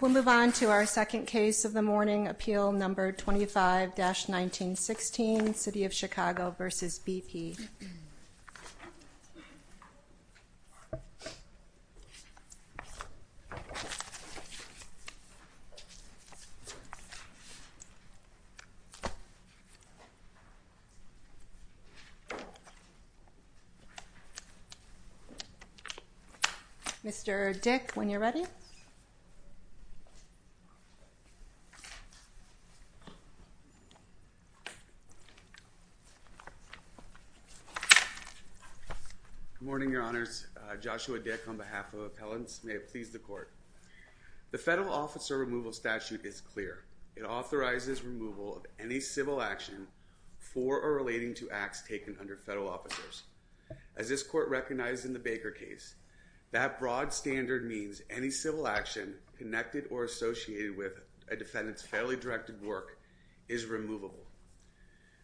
We'll move on to our second case of the morning, Appeal No. 25-1916, City of Chicago v. BP. Mr. Dick, when you're ready. Good morning, Your Honors. Joshua Dick on behalf of Appellants, may it please the Court. The Federal Officer Removal Statute is clear. It authorizes removal of any civil action for or relating to acts taken under federal officers. As this Court recognized in the Baker case, that broad standard means any civil action connected or associated with a defendant's federally directed work is removable.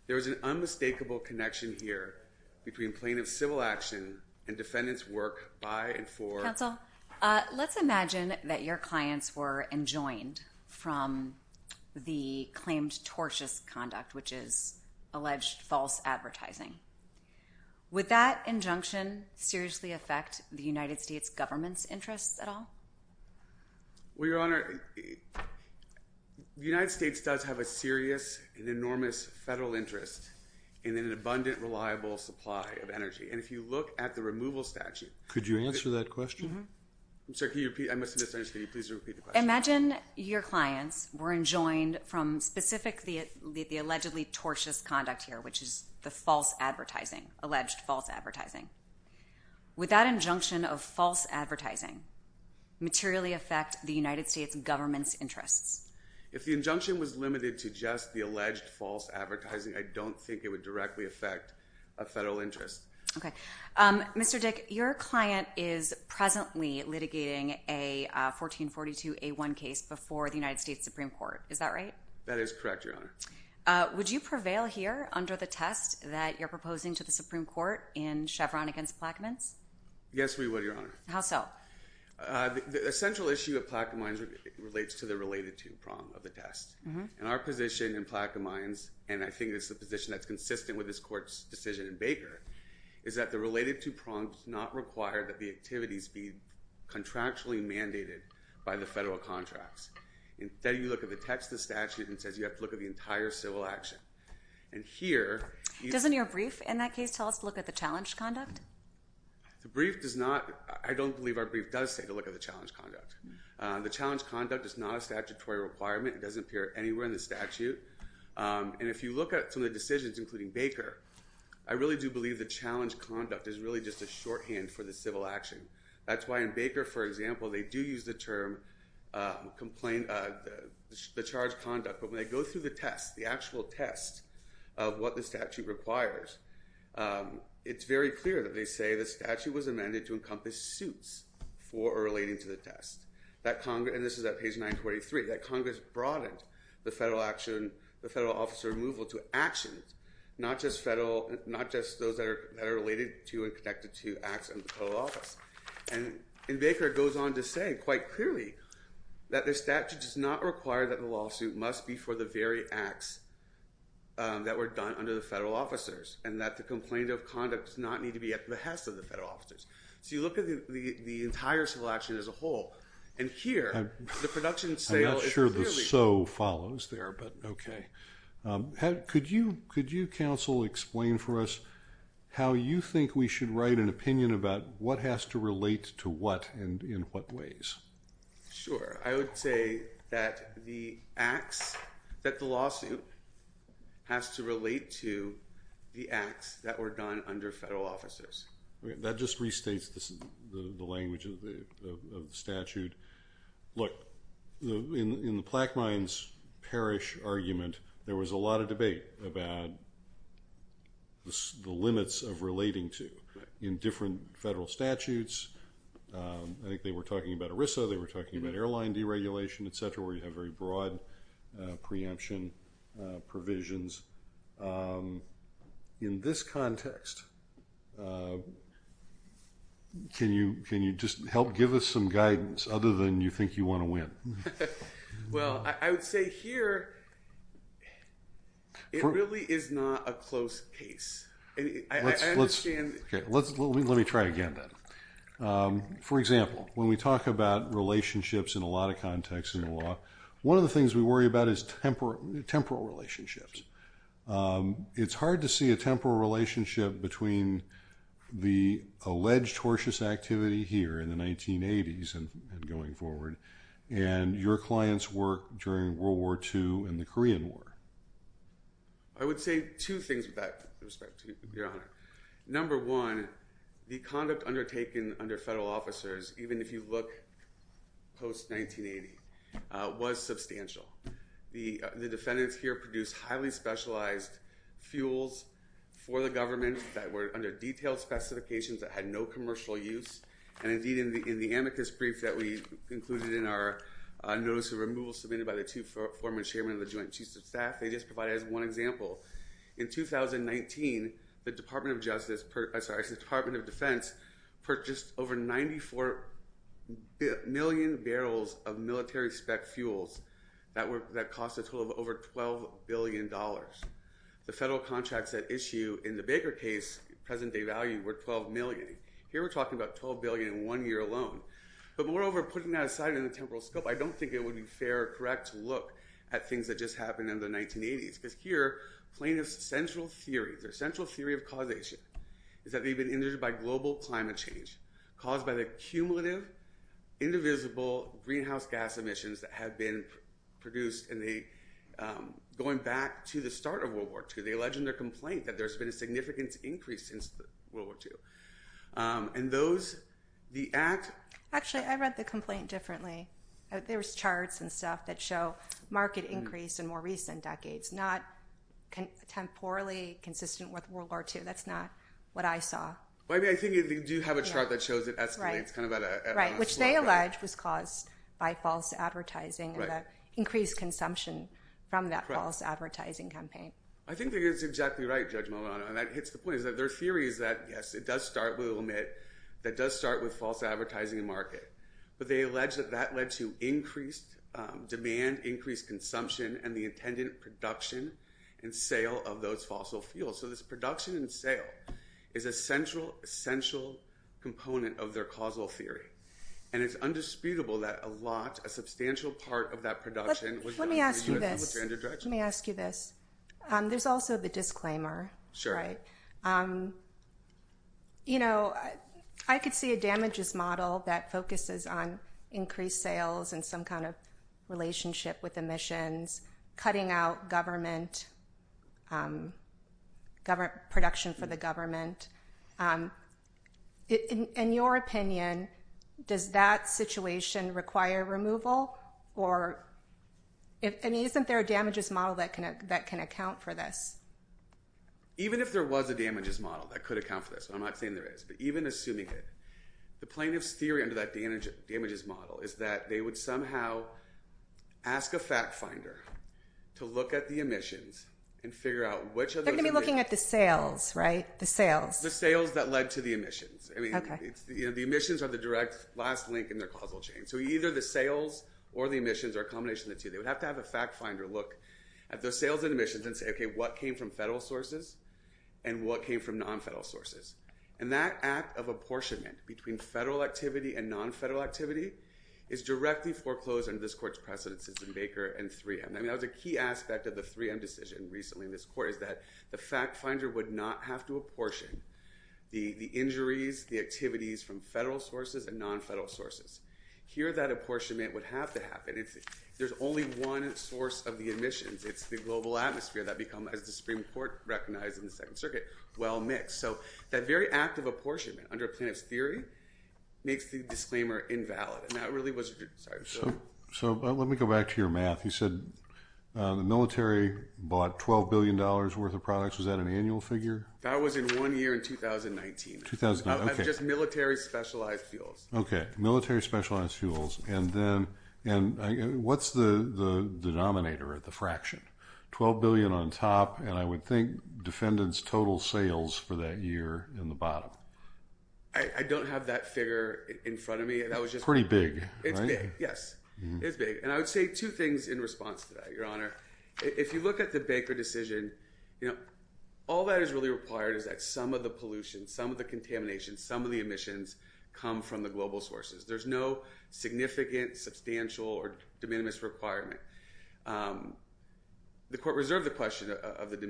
There is an unmistakable connection here between plaintiff's civil action and defendant's work by and for- Counsel, let's imagine that your clients were enjoined from the claimed tortious conduct, which is alleged false advertising. Would that injunction seriously affect the United States government's interests at all? Well, Your Honor, the United States does have a serious and enormous federal interest in an abundant, reliable supply of energy. And if you look at the removal statute- Could you answer that question? I'm sorry, can you repeat? I must have misunderstood. Could you please repeat the question? Imagine your clients were enjoined from specifically the allegedly tortious conduct here, which is the false advertising, alleged false advertising. Would that injunction of false advertising materially affect the United States government's If the injunction was limited to just the alleged false advertising, I don't think it would directly affect a federal interest. Okay. Mr. Dick, your client is presently litigating a 1442A1 case before the United States Supreme Court. Is that right? That is correct, Your Honor. Would you prevail here under the test that you're proposing to the Supreme Court in Chevron against Plaquemines? Yes, we would, Your Honor. How so? The essential issue of Plaquemines relates to the related to prong of the test. Our position in Plaquemines, and I think it's the position that's consistent with this court's decision in Baker, is that the related to prong does not require that the activities be contractually mandated by the federal contracts. Instead, you look at the text of the statute and it says you have to look at the entire civil action. And here... Doesn't your brief in that case tell us to look at the challenged conduct? The brief does not... I don't believe our brief does say to look at the challenged conduct. The challenged conduct is not a statutory requirement. It doesn't appear anywhere in the statute. And if you look at some of the decisions, including Baker, I really do believe the challenged conduct is really just a shorthand for the civil action. That's why in Baker, for example, they do use the term the charged conduct. But when they go through the test, the actual test of what the statute requires, it's very clear that they say the statute was amended to encompass suits for relating to the test. That Congress... And this is at page 943. That Congress broadened the federal action, the federal officer removal to actions, not just those that are related to and connected to acts in the federal office. And in Baker, it goes on to say quite clearly that the statute does not require that the lawsuit must be for the very acts that were done under the federal officers, and that the complaint of conduct does not need to be at the behest of the federal officers. So you look at the entire civil action as a whole, and here, the production sale is clearly... I'm not sure the so follows there, but okay. Could you counsel explain for us how you think we should write an opinion about what has to relate to what and in what ways? Sure. I would say that the acts, that the lawsuit has to relate to the acts that were done under federal officers. That just restates the language of the statute. Look, in the Plaquemines Parish argument, there was a lot of debate about the limits of relating to in different federal statutes. I think they were talking about ERISA, they were talking about airline deregulation, et cetera, where you have very broad preemption provisions. In this context, can you just help give us some guidance other than you think you want to win? Well, I would say here, it really is not a close case. I understand... Okay. Let me try again then. For example, when we talk about relationships in a lot of contexts in the law, one of the things we worry about is temporal relationships. It's hard to see a temporal relationship between the alleged tortious activity here in the 1980s and going forward, and your clients' work during World War II and the Korean War. I would say two things with that respect, Your Honor. Number one, the conduct undertaken under federal officers, even if you look post-1980, was substantial. The defendants here produced highly specialized fuels for the government that were under detailed specifications that had no commercial use, and indeed, in the amicus brief that we included in our notice of removal submitted by the two former chairmen of the Joint Chiefs of Staff, they just provide as one example. In 2019, the Department of Defense purchased over 94 million barrels of military spec fuels that cost a total of over $12 billion. The federal contracts at issue in the Baker case, present-day value, were $12 million. Here we're talking about $12 billion in one year alone, but moreover, putting that aside in the temporal scope, I don't think it would be fair or correct to look at things that just happened in the 1980s, because here, plaintiff's central theory, their central theory of causation is that they've been injured by global climate change caused by the cumulative, indivisible greenhouse gas emissions that have been produced in the, going back to the start of World War II. They allege in their complaint that there's been a significant increase since World War II. And those, the act- Actually, I read the complaint differently. There's charts and stuff that show market increase in more recent decades, not temporally consistent with World War II. That's not what I saw. Well, I mean, I think they do have a chart that shows it escalates, kind of at a- Right, which they allege was caused by false advertising and the increased consumption from that false advertising campaign. I think that's exactly right, Judge Malano. And that hits the point, is that their theory is that, yes, it does start with, we'll admit, that does start with false advertising and market. But they allege that that led to increased demand, increased consumption, and the intended production and sale of those fossil fuels. So this production and sale is a central, essential component of their causal theory. And it's undisputable that a lot, a substantial part of that production- Let me ask you this. Let me ask you this. There's also the disclaimer, right? I could see a damages model that focuses on increased sales and some kind of relationship with emissions, cutting out government, production for the government. In your opinion, does that situation require removal? Or, I mean, isn't there a damages model that can account for this? Even if there was a damages model that could account for this, I'm not saying there is, but even assuming it, the plaintiff's theory under that damages model is that they would somehow ask a fact finder to look at the emissions and figure out which of those- They're going to be looking at the sales, right? The sales. The sales that led to the emissions. I mean, the emissions are the direct last link in their causal chain. So either the sales or the emissions are a combination of the two. They would have to have a fact finder look at the sales and emissions and say, okay, what came from federal sources and what came from non-federal sources? And that act of apportionment between federal activity and non-federal activity is directly foreclosed under this court's precedence in Baker and 3M. I mean, that was a key aspect of the 3M decision recently in this court, is that the fact finder would not have to apportion the injuries, the activities from federal sources and non-federal sources. Here, that apportionment would have to happen. There's only one source of the emissions. It's the global atmosphere that become, as the Supreme Court recognized in the Second Circuit, well-mixed. So that very act of apportionment, under Planoff's theory, makes the disclaimer invalid. And that really wasn't true. So let me go back to your math. You said the military bought $12 billion worth of products. Was that an annual figure? That was in one year in 2019. Just military specialized fuels. Okay. Military specialized fuels. And then what's the denominator or the fraction? $12 billion on top, and I would think defendants' total sales for that year in the bottom. I don't have that figure in front of me. It's pretty big. It's big, yes. It's big. And I would say two things in response to that, Your Honor. If you look at the Baker decision, you know, all that is really required is that some of the pollution, some of the contamination, some of the emissions come from the global sources. There's no significant, substantial, or de minimis requirement. The court reserved the question of the de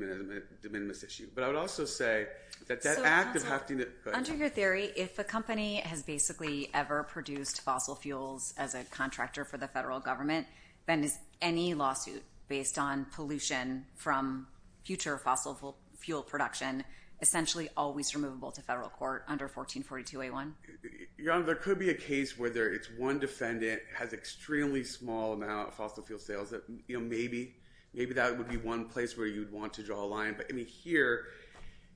minimis issue, but I would also say that that act of having to Under your theory, if a company has basically ever produced fossil fuels as a contractor for the federal government, then is any lawsuit based on pollution from future fossil fuel production essentially always removable to federal court under 1442A1? Your Honor, there could be a case where it's one defendant has extremely small amount of fossil fuel sales. Maybe that would be one place where you'd want to draw a line. But, I mean, here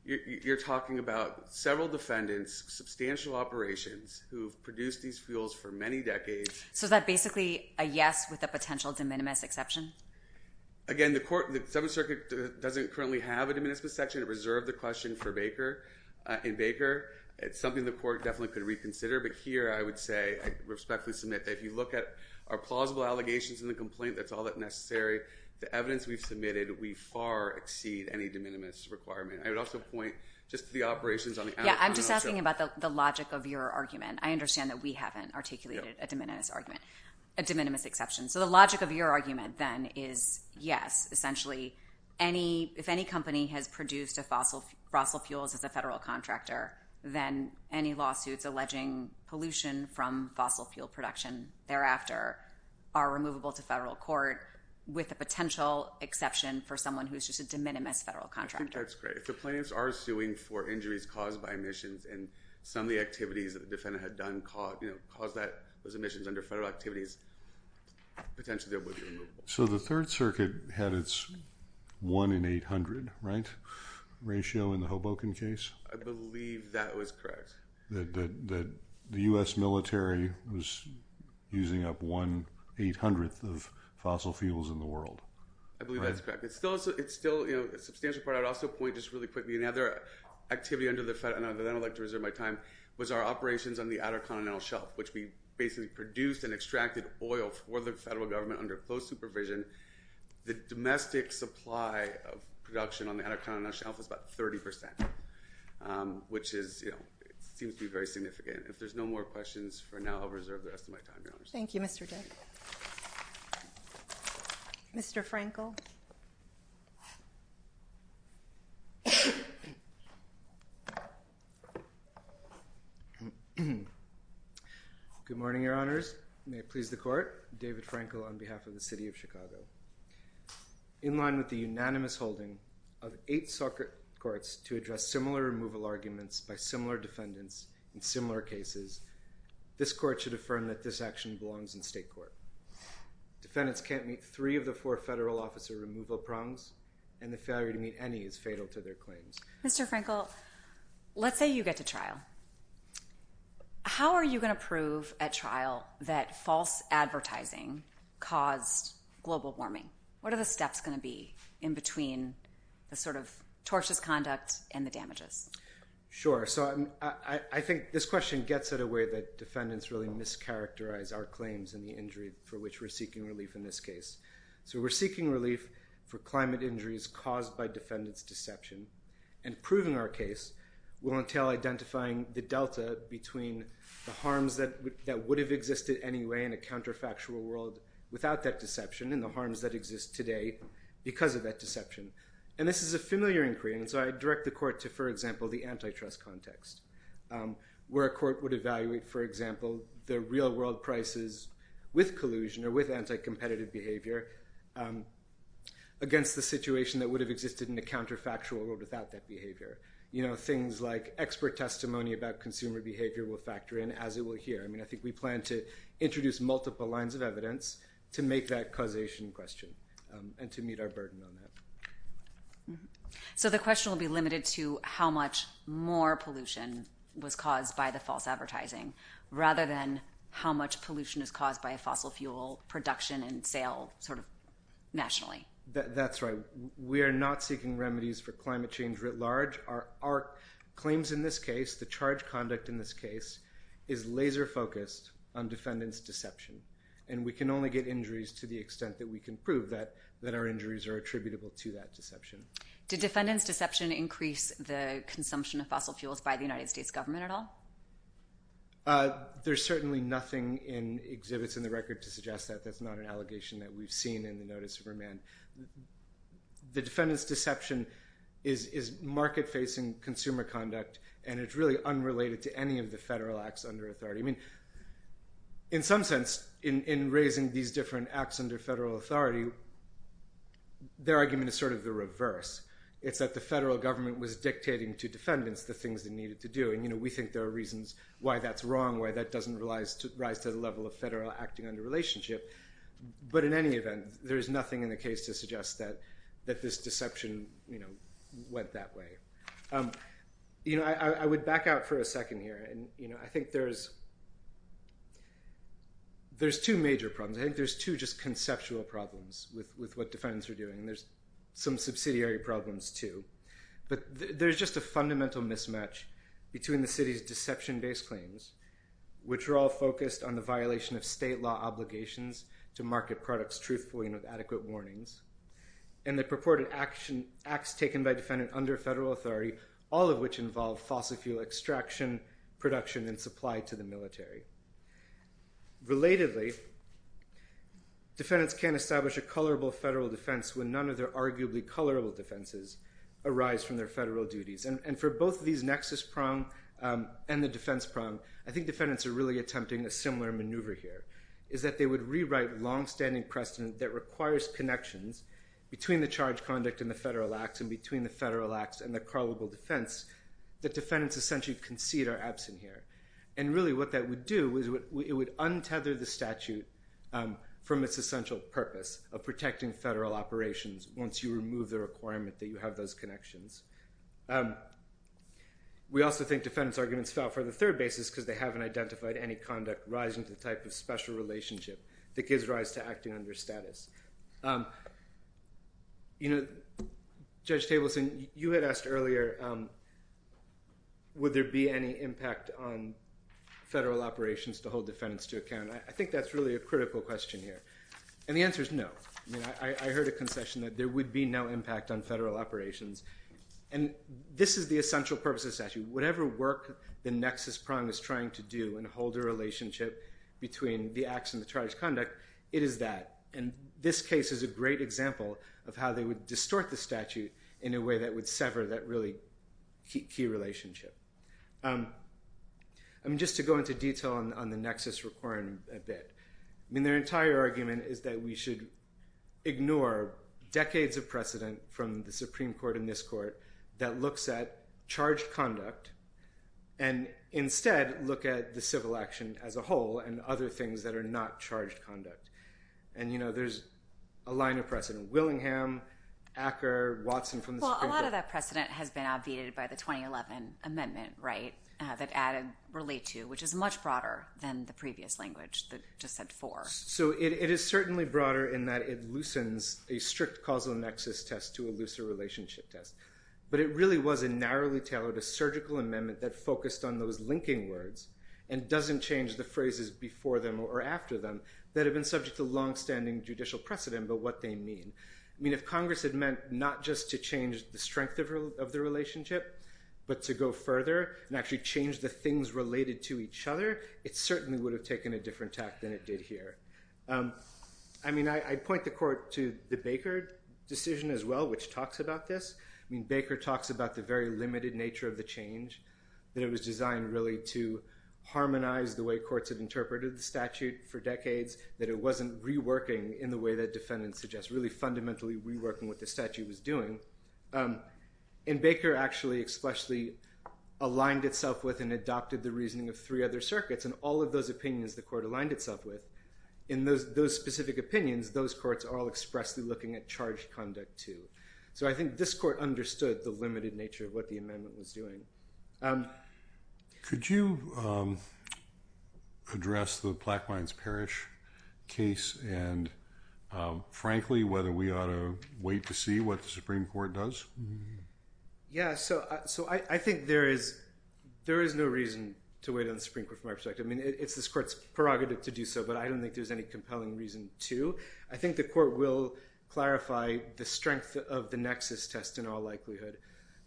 you're talking about several defendants, substantial operations, who have produced these fuels for many decades. So is that basically a yes with a potential de minimis exception? Again, the Seventh Circuit doesn't currently have a de minimis section. It reserved the question for Baker. In Baker, it's something the court definitely could reconsider. But here I would say, I respectfully submit, that if you look at our plausible allegations in the complaint, that's all that's necessary. The evidence we've submitted, we far exceed any de minimis requirement. I would also point just to the operations on the outcome. Yeah, I'm just asking about the logic of your argument. I understand that we haven't articulated a de minimis exception. So the logic of your argument, then, is yes. Essentially, if any company has produced fossil fuels as a federal contractor, then any lawsuits alleging pollution from fossil fuel production thereafter are removable to federal court, with a potential exception for someone who's just a de minimis federal contractor. I think that's great. If the plaintiffs are suing for injuries caused by emissions, and some of the activities that the defendant had done caused those emissions under federal activities, potentially they would be removable. So the Third Circuit had its 1 in 800, right, ratio in the Hoboken case? I believe that was correct. That the U.S. military was using up 1 800th of fossil fuels in the world. I believe that's correct. It's still a substantial part. I would also point just really quickly, another activity, and then I'd like to reserve my time, was our operations on the Outer Continental Shelf, which we basically produced and extracted oil for the federal government under close supervision. The domestic supply of production on the Outer Continental Shelf was about 30%, which seems to be very significant. If there's no more questions for now, I'll reserve the rest of my time, Your Honors. Thank you, Mr. Dick. Mr. Frankel. Good morning, Your Honors. May it please the Court, David Frankel on behalf of the City of Chicago. In line with the unanimous holding of eight circuit courts to address similar removal arguments by similar defendants in similar cases, this Court should affirm that this action belongs in state court. Defendants can't meet three of the four federal officer removal prongs, and the failure to meet any is fatal to their claims. Mr. Frankel, let's say you get to trial. How are you going to prove at trial that false advertising caused global warming? What are the steps going to be in between the sort of tortious conduct and the damages? Sure. So I think this question gets at a way that defendants really mischaracterize our claims and the injury for which we're seeking relief in this case. So we're seeking relief for climate injuries caused by defendants' deception, and proving our case will entail identifying the delta between the harms that would have existed anyway in a counterfactual world without that deception and the harms that exist today because of that deception. And this is a familiar inquiry, and so I direct the Court to, for example, the antitrust context, where a court would evaluate, for example, the real-world prices with collusion or with anti-competitive behavior against the situation that would have existed in a counterfactual world without that behavior. Things like expert testimony about consumer behavior will factor in as it will here. I mean, I think we plan to introduce multiple lines of evidence to make that causation question and to meet our burden on that. So the question will be limited to how much more pollution was caused by the false advertising rather than how much pollution is caused by fossil fuel production and sale nationally. That's right. We are not seeking remedies for climate change writ large. Our claims in this case, the charged conduct in this case, is laser-focused on defendants' deception, and we can only get injuries to the extent that we can prove that our injuries are attributable to that deception. Did defendants' deception increase the consumption of fossil fuels by the United States government at all? There's certainly nothing in exhibits in the record to suggest that. That's not an allegation that we've seen in the notice of remand. The defendants' deception is market-facing consumer conduct, and it's really unrelated to any of the federal acts under authority. In some sense, in raising these different acts under federal authority, their argument is sort of the reverse. It's that the federal government was dictating to defendants the things they needed to do, and we think there are reasons why that's wrong, why that doesn't rise to the level of federal acting under relationship. But in any event, there's nothing in the case to suggest that this deception went that way. I would back out for a second here. I think there's two major problems. I think there's two just conceptual problems with what defendants are doing. There's some subsidiary problems, too. But there's just a fundamental mismatch between the city's deception-based claims, which are all focused on the violation of state law obligations to market products truthfully and with adequate warnings, and the purported acts taken by defendants under federal authority, all of which involve fossil fuel extraction, production, and supply to the military. Relatedly, defendants can't establish a colorable federal defense when none of their arguably colorable defenses arise from their federal duties. And for both these nexus prong and the defense prong, I think defendants are really attempting a similar maneuver here, is that they would rewrite longstanding precedent that requires connections between the charge conduct and the federal acts and between the federal acts and the colorable defense that defendants essentially concede are absent here. And really what that would do is it would untether the statute from its essential purpose of protecting federal operations once you remove the requirement that you have those connections. We also think defendants' arguments fell for the third basis because they haven't identified any conduct rising to the type of special relationship that gives rise to acting under status. You know, Judge Tableson, you had asked earlier, would there be any impact on federal operations to hold defendants to account? I think that's really a critical question here. And the answer is no. I mean, I heard a concession that there would be no impact on federal operations. And this is the essential purpose of the statute. Whatever work the nexus prong is trying to do and hold a relationship between the acts and the charge conduct, it is that. And this case is a great example of how they would distort the statute in a way that would sever that really key relationship. I mean, just to go into detail on the nexus requirement a bit. I mean, their entire argument is that we should ignore decades of precedent from the Supreme Court and this court that looks at charged conduct and instead look at the civil action as a whole and other things that are not charged conduct. And, you know, there's a line of precedent. Willingham, Acker, Watson from the Supreme Court. Well, a lot of that precedent has been obviated by the 2011 amendment, right, that added relate to, which is much broader than the previous language that just said for. So it is certainly broader in that it loosens a strict causal nexus test to a looser relationship test. But it really was a narrowly tailored, a surgical amendment that focused on those linking words and doesn't change the phrases before them or after them that have been subject to longstanding judicial precedent, but what they mean. I mean, if Congress had meant not just to change the strength of the relationship, but to go further and actually change the things related to each other, it certainly would have taken a different tact than it did here. I mean, I point the court to the Baker decision as well, which talks about this. I mean, Baker talks about the very limited nature of the change, that it was designed really to harmonize the way courts have interpreted the statute for decades, that it wasn't reworking in the way that defendants suggest, really fundamentally reworking what the statute was doing. And Baker actually expressly aligned itself with and adopted the reasoning of three other circuits, and all of those opinions the court aligned itself with, in those specific opinions, those courts are all expressly looking at charge conduct too. So I think this court understood the limited nature of what the amendment was doing. Could you address the Black Mines Parish case, and frankly, whether we ought to wait to see what the Supreme Court does? Yeah, so I think there is no reason to wait on the Supreme Court from our perspective. I mean, it's this court's prerogative to do so, but I don't think there's any compelling reason to. I think the court will clarify the strength of the nexus test in all likelihood,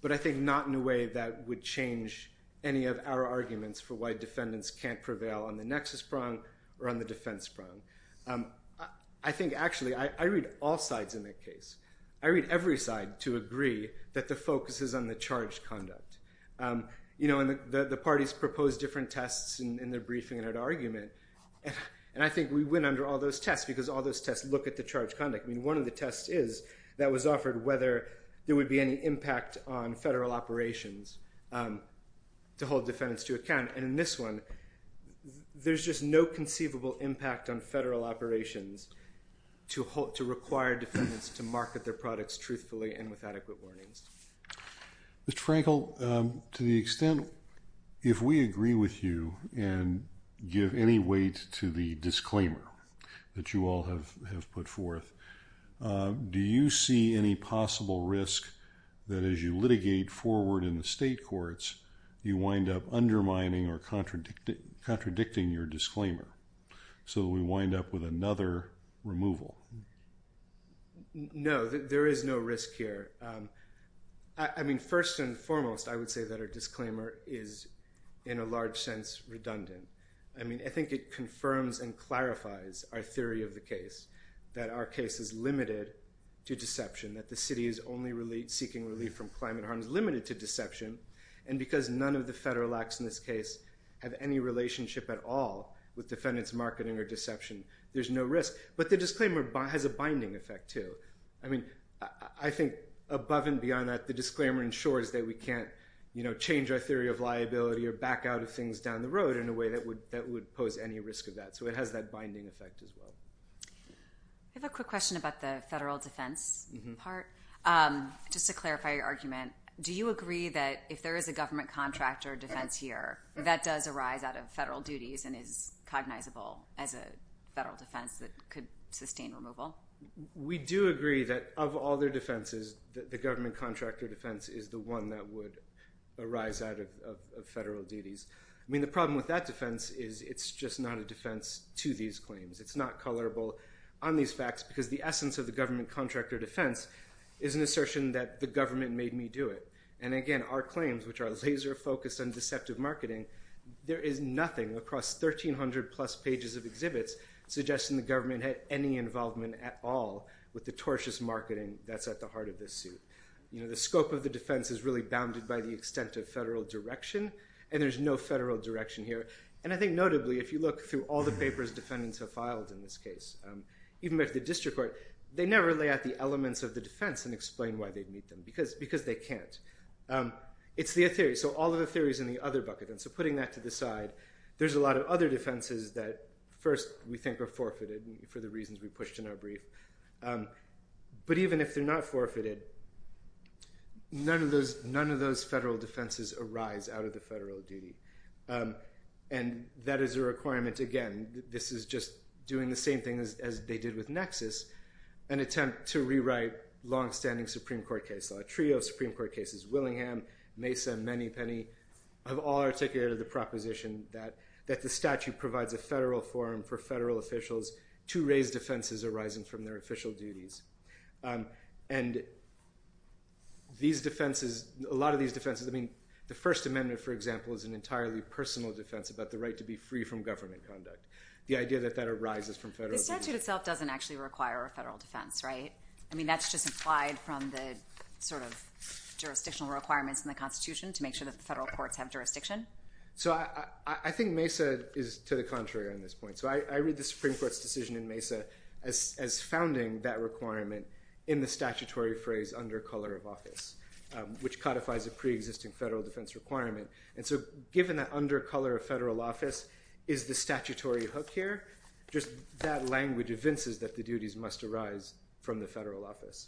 but I think not in a way that would change any of our arguments for why defendants can't prevail on the nexus prong or on the defense prong. I think, actually, I read all sides in that case. I read every side to agree that the focus is on the charge conduct. You know, and the parties propose different tests in their briefing and at argument, and I think we win under all those tests because all those tests look at the charge conduct. I mean, one of the tests is that was offered whether there would be any impact on federal operations to hold defendants to account, and in this one, there's just no conceivable impact on federal operations to require defendants to market their products truthfully and with adequate warnings. Mr. Frankel, to the extent if we agree with you and give any weight to the disclaimer that you all have put forth, do you see any possible risk that as you litigate forward in the state courts, you wind up undermining or contradicting your disclaimer so we wind up with another removal? No, there is no risk here. I mean, first and foremost, I would say that our disclaimer is, in a large sense, redundant. I mean, I think it confirms and clarifies our theory of the case that our case is limited to deception, that the city is only seeking relief from climate harm is limited to deception, and because none of the federal acts in this case have any relationship at all with defendant's marketing or deception, there's no risk. But the disclaimer has a binding effect, too. I mean, I think above and beyond that, the disclaimer ensures that we can't change our theory of liability or back out of things down the road in a way that would pose any risk of that, so it has that binding effect as well. I have a quick question about the federal defense part. Just to clarify your argument, do you agree that if there is a government contractor defense here, that does arise out of federal duties and is cognizable as a federal defense that could sustain removal? We do agree that of all their defenses, the government contractor defense is the one that would arise out of federal duties. I mean, the problem with that defense is it's just not a defense to these claims. It's not colorable on these facts because the essence of the government contractor defense is an assertion that the government made me do it. And again, our claims, which are laser-focused and deceptive marketing, there is nothing across 1,300-plus pages of exhibits suggesting the government had any involvement at all with the tortious marketing that's at the heart of this suit. The scope of the defense is really bounded by the extent of federal direction, and there's no federal direction here. And I think notably, if you look through all the papers defendants have filed in this case, even with the district court, they never lay out the elements of the defense and explain why they'd meet them because they can't. It's the theory. So all of the theory is in the other bucket, and so putting that to the side, there's a lot of other defenses that, first, we think are forfeited for the reasons we pushed in our brief. But even if they're not forfeited, none of those federal defenses arise out of the federal duty. And that is a requirement. Again, this is just doing the same thing as they did with Nexus, an attempt to rewrite longstanding Supreme Court case law. A trio of Supreme Court cases, Willingham, Mesa, Menny, Penny, have all articulated the proposition that the statute provides a federal forum for federal officials to raise defenses arising from their official duties. And these defenses, a lot of these defenses, I mean, the First Amendment, for example, is an entirely personal defense about the right to be free from government conduct. The idea that that arises from federal duty. The statute itself doesn't actually require a federal defense, right? I mean, that's just implied from the sort of jurisdictional requirements in the Constitution to make sure that the federal courts have jurisdiction? So I think Mesa is to the contrary on this point. So I read the Supreme Court's decision in Mesa as founding that requirement in the statutory phrase, under color of office, which codifies a preexisting federal defense requirement. And so given that under color of federal office is the statutory hook here, just that language evinces that the duties must arise from the federal office.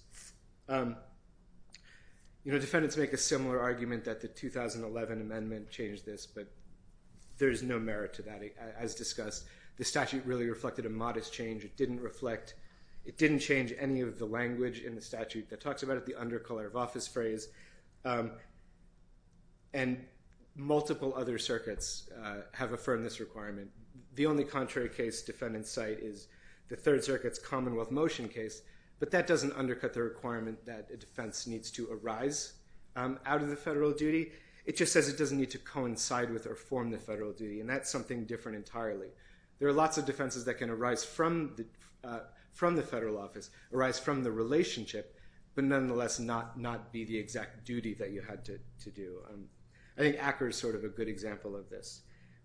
You know, defendants make a similar argument that the 2011 amendment changed this, but there's no merit to that as discussed. The statute really reflected a modest change. It didn't reflect, it didn't change any of the language in the statute that talks about it, the under color of office phrase. And multiple other circuits have affirmed this requirement. The only contrary case defendants cite is the Third Circuit's Commonwealth Motion case, but that doesn't undercut the requirement that a defense needs to arise out of the federal duty. It just says it doesn't need to coincide with or form the federal duty, and that's something different entirely. There are lots of defenses that can arise from the federal office, arise from the relationship, but nonetheless not be the exact duty that you had to do. I think Acker is sort of a good example of this,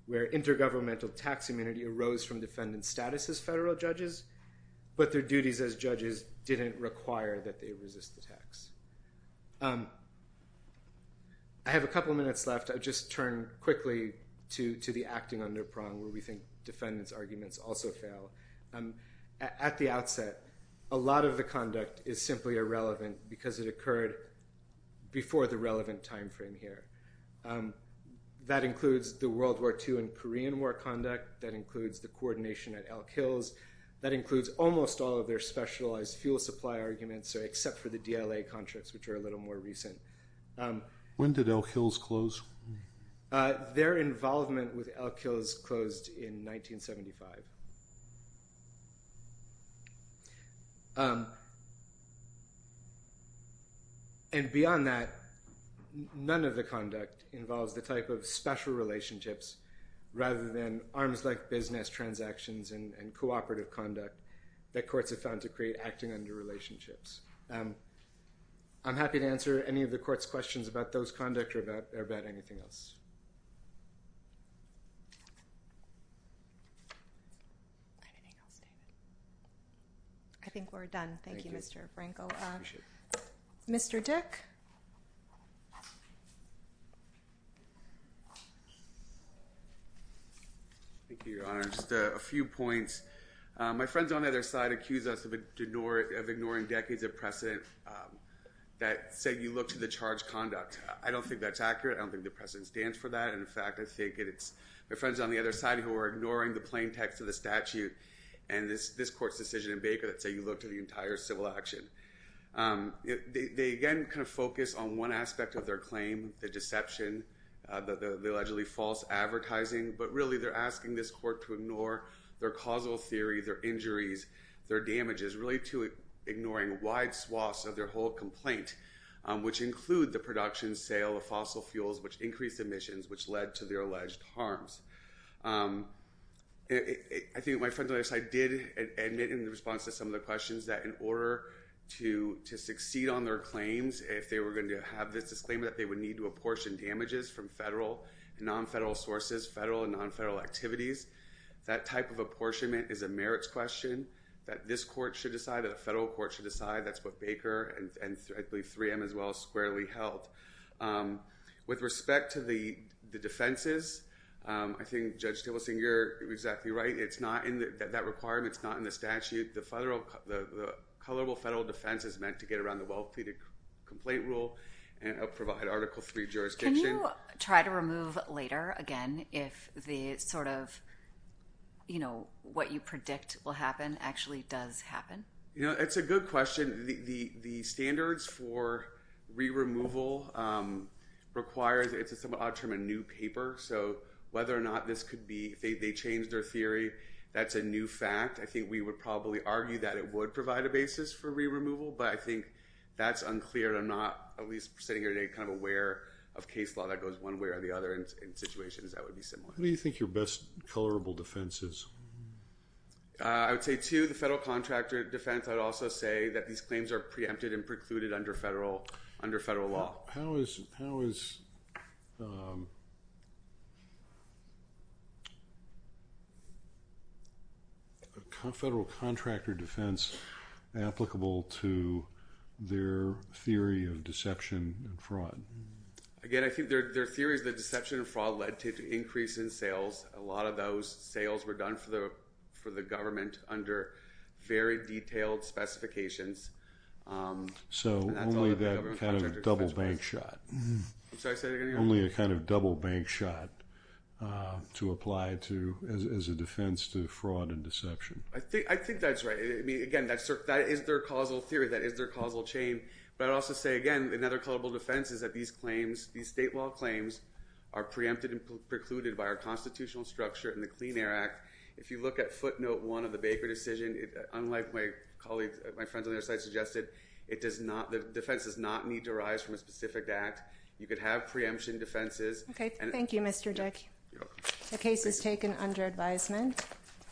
where intergovernmental tax immunity arose from defendant status as federal judges, but their duties as judges didn't require that they resist the tax. I have a couple minutes left. I'll just turn quickly to the acting on their prong, where we think defendants' arguments also fail. At the outset, a lot of the conduct is simply irrelevant because it occurred before the relevant time frame here. That includes the World War II and Korean War conduct. That includes the coordination at Elk Hills. That includes almost all of their specialized fuel supply arguments, except for the DLA contracts, which are a little more recent. When did Elk Hills close? Their involvement with Elk Hills closed in 1975. And beyond that, none of the conduct involves the type of special relationships rather than arms-length business transactions and cooperative conduct that courts have found to create acting under relationships. I'm happy to answer any of the court's questions about those conduct or about anything else. I think we're done. Thank you, Mr. Franco. Mr. Dick? Thank you, Your Honor. Just a few points. My friends on the other side accuse us of ignoring decades of precedent that say you look to the charged conduct. I don't think that's accurate. I don't think the precedent stands for that. In fact, I think it's my friends on the other side who are ignoring the plain text of the statute and this court's decision in Baker that say you look to the entire civil action. They, again, kind of focus on one aspect of their claim, the deception, the allegedly false advertising, but really they're asking this court to ignore their causal theory, their injuries, their damages, really to ignoring wide swaths of their whole complaint, which include the production, sale of fossil fuels, which increased emissions, which led to their alleged harms. I think my friends on the other side did admit in response to some of the questions that in order to succeed on their claims, if they were going to have this disclaimer, that they would need to apportion damages from federal and non-federal sources, federal and non-federal activities, that type of apportionment is a merits question that this court should decide, that the federal court should decide. That's what Baker and I believe 3M as well squarely held. With respect to the defenses, I think Judge Tableson, you're exactly right. That requirement's not in the statute. The colorable federal defense is meant to get around the well-pleaded complaint rule and help provide Article III jurisdiction. Can you try to remove later, again, if what you predict will happen actually does happen? It's a good question. The standards for re-removal requires, it's a somewhat odd term, a new paper, so whether or not this could be, if they change their theory, that's a new fact. I think we would probably argue that it would provide a basis for re-removal, but I think that's unclear. I'm not, at least sitting here today, kind of aware of case law that goes one way or the other. In situations, that would be similar. What do you think your best colorable defense is? I would say two, the federal contractor defense. I would also say that these claims are preempted and precluded under federal law. How is a federal contractor defense applicable to their theory of deception and fraud? Again, I think their theory is that deception and fraud led to an increase in sales. A lot of those sales were done for the government under very detailed specifications. So, only that kind of double bank shot. I'm sorry, say that again. Only a kind of double bank shot to apply to as a defense to fraud and deception. I think that's right. Again, that is their causal theory. That is their causal chain, but I'd also say, again, another colorable defense is that these claims, these state law claims are preempted and precluded by our constitutional structure and the Clean Air Act. If you look at footnote one of the Baker decision, unlike my colleagues, my friends on the other side suggested, the defense does not need to arise from a specific act. You could have preemption defenses. Okay, thank you, Mr. Dick. The case is taken under advisement.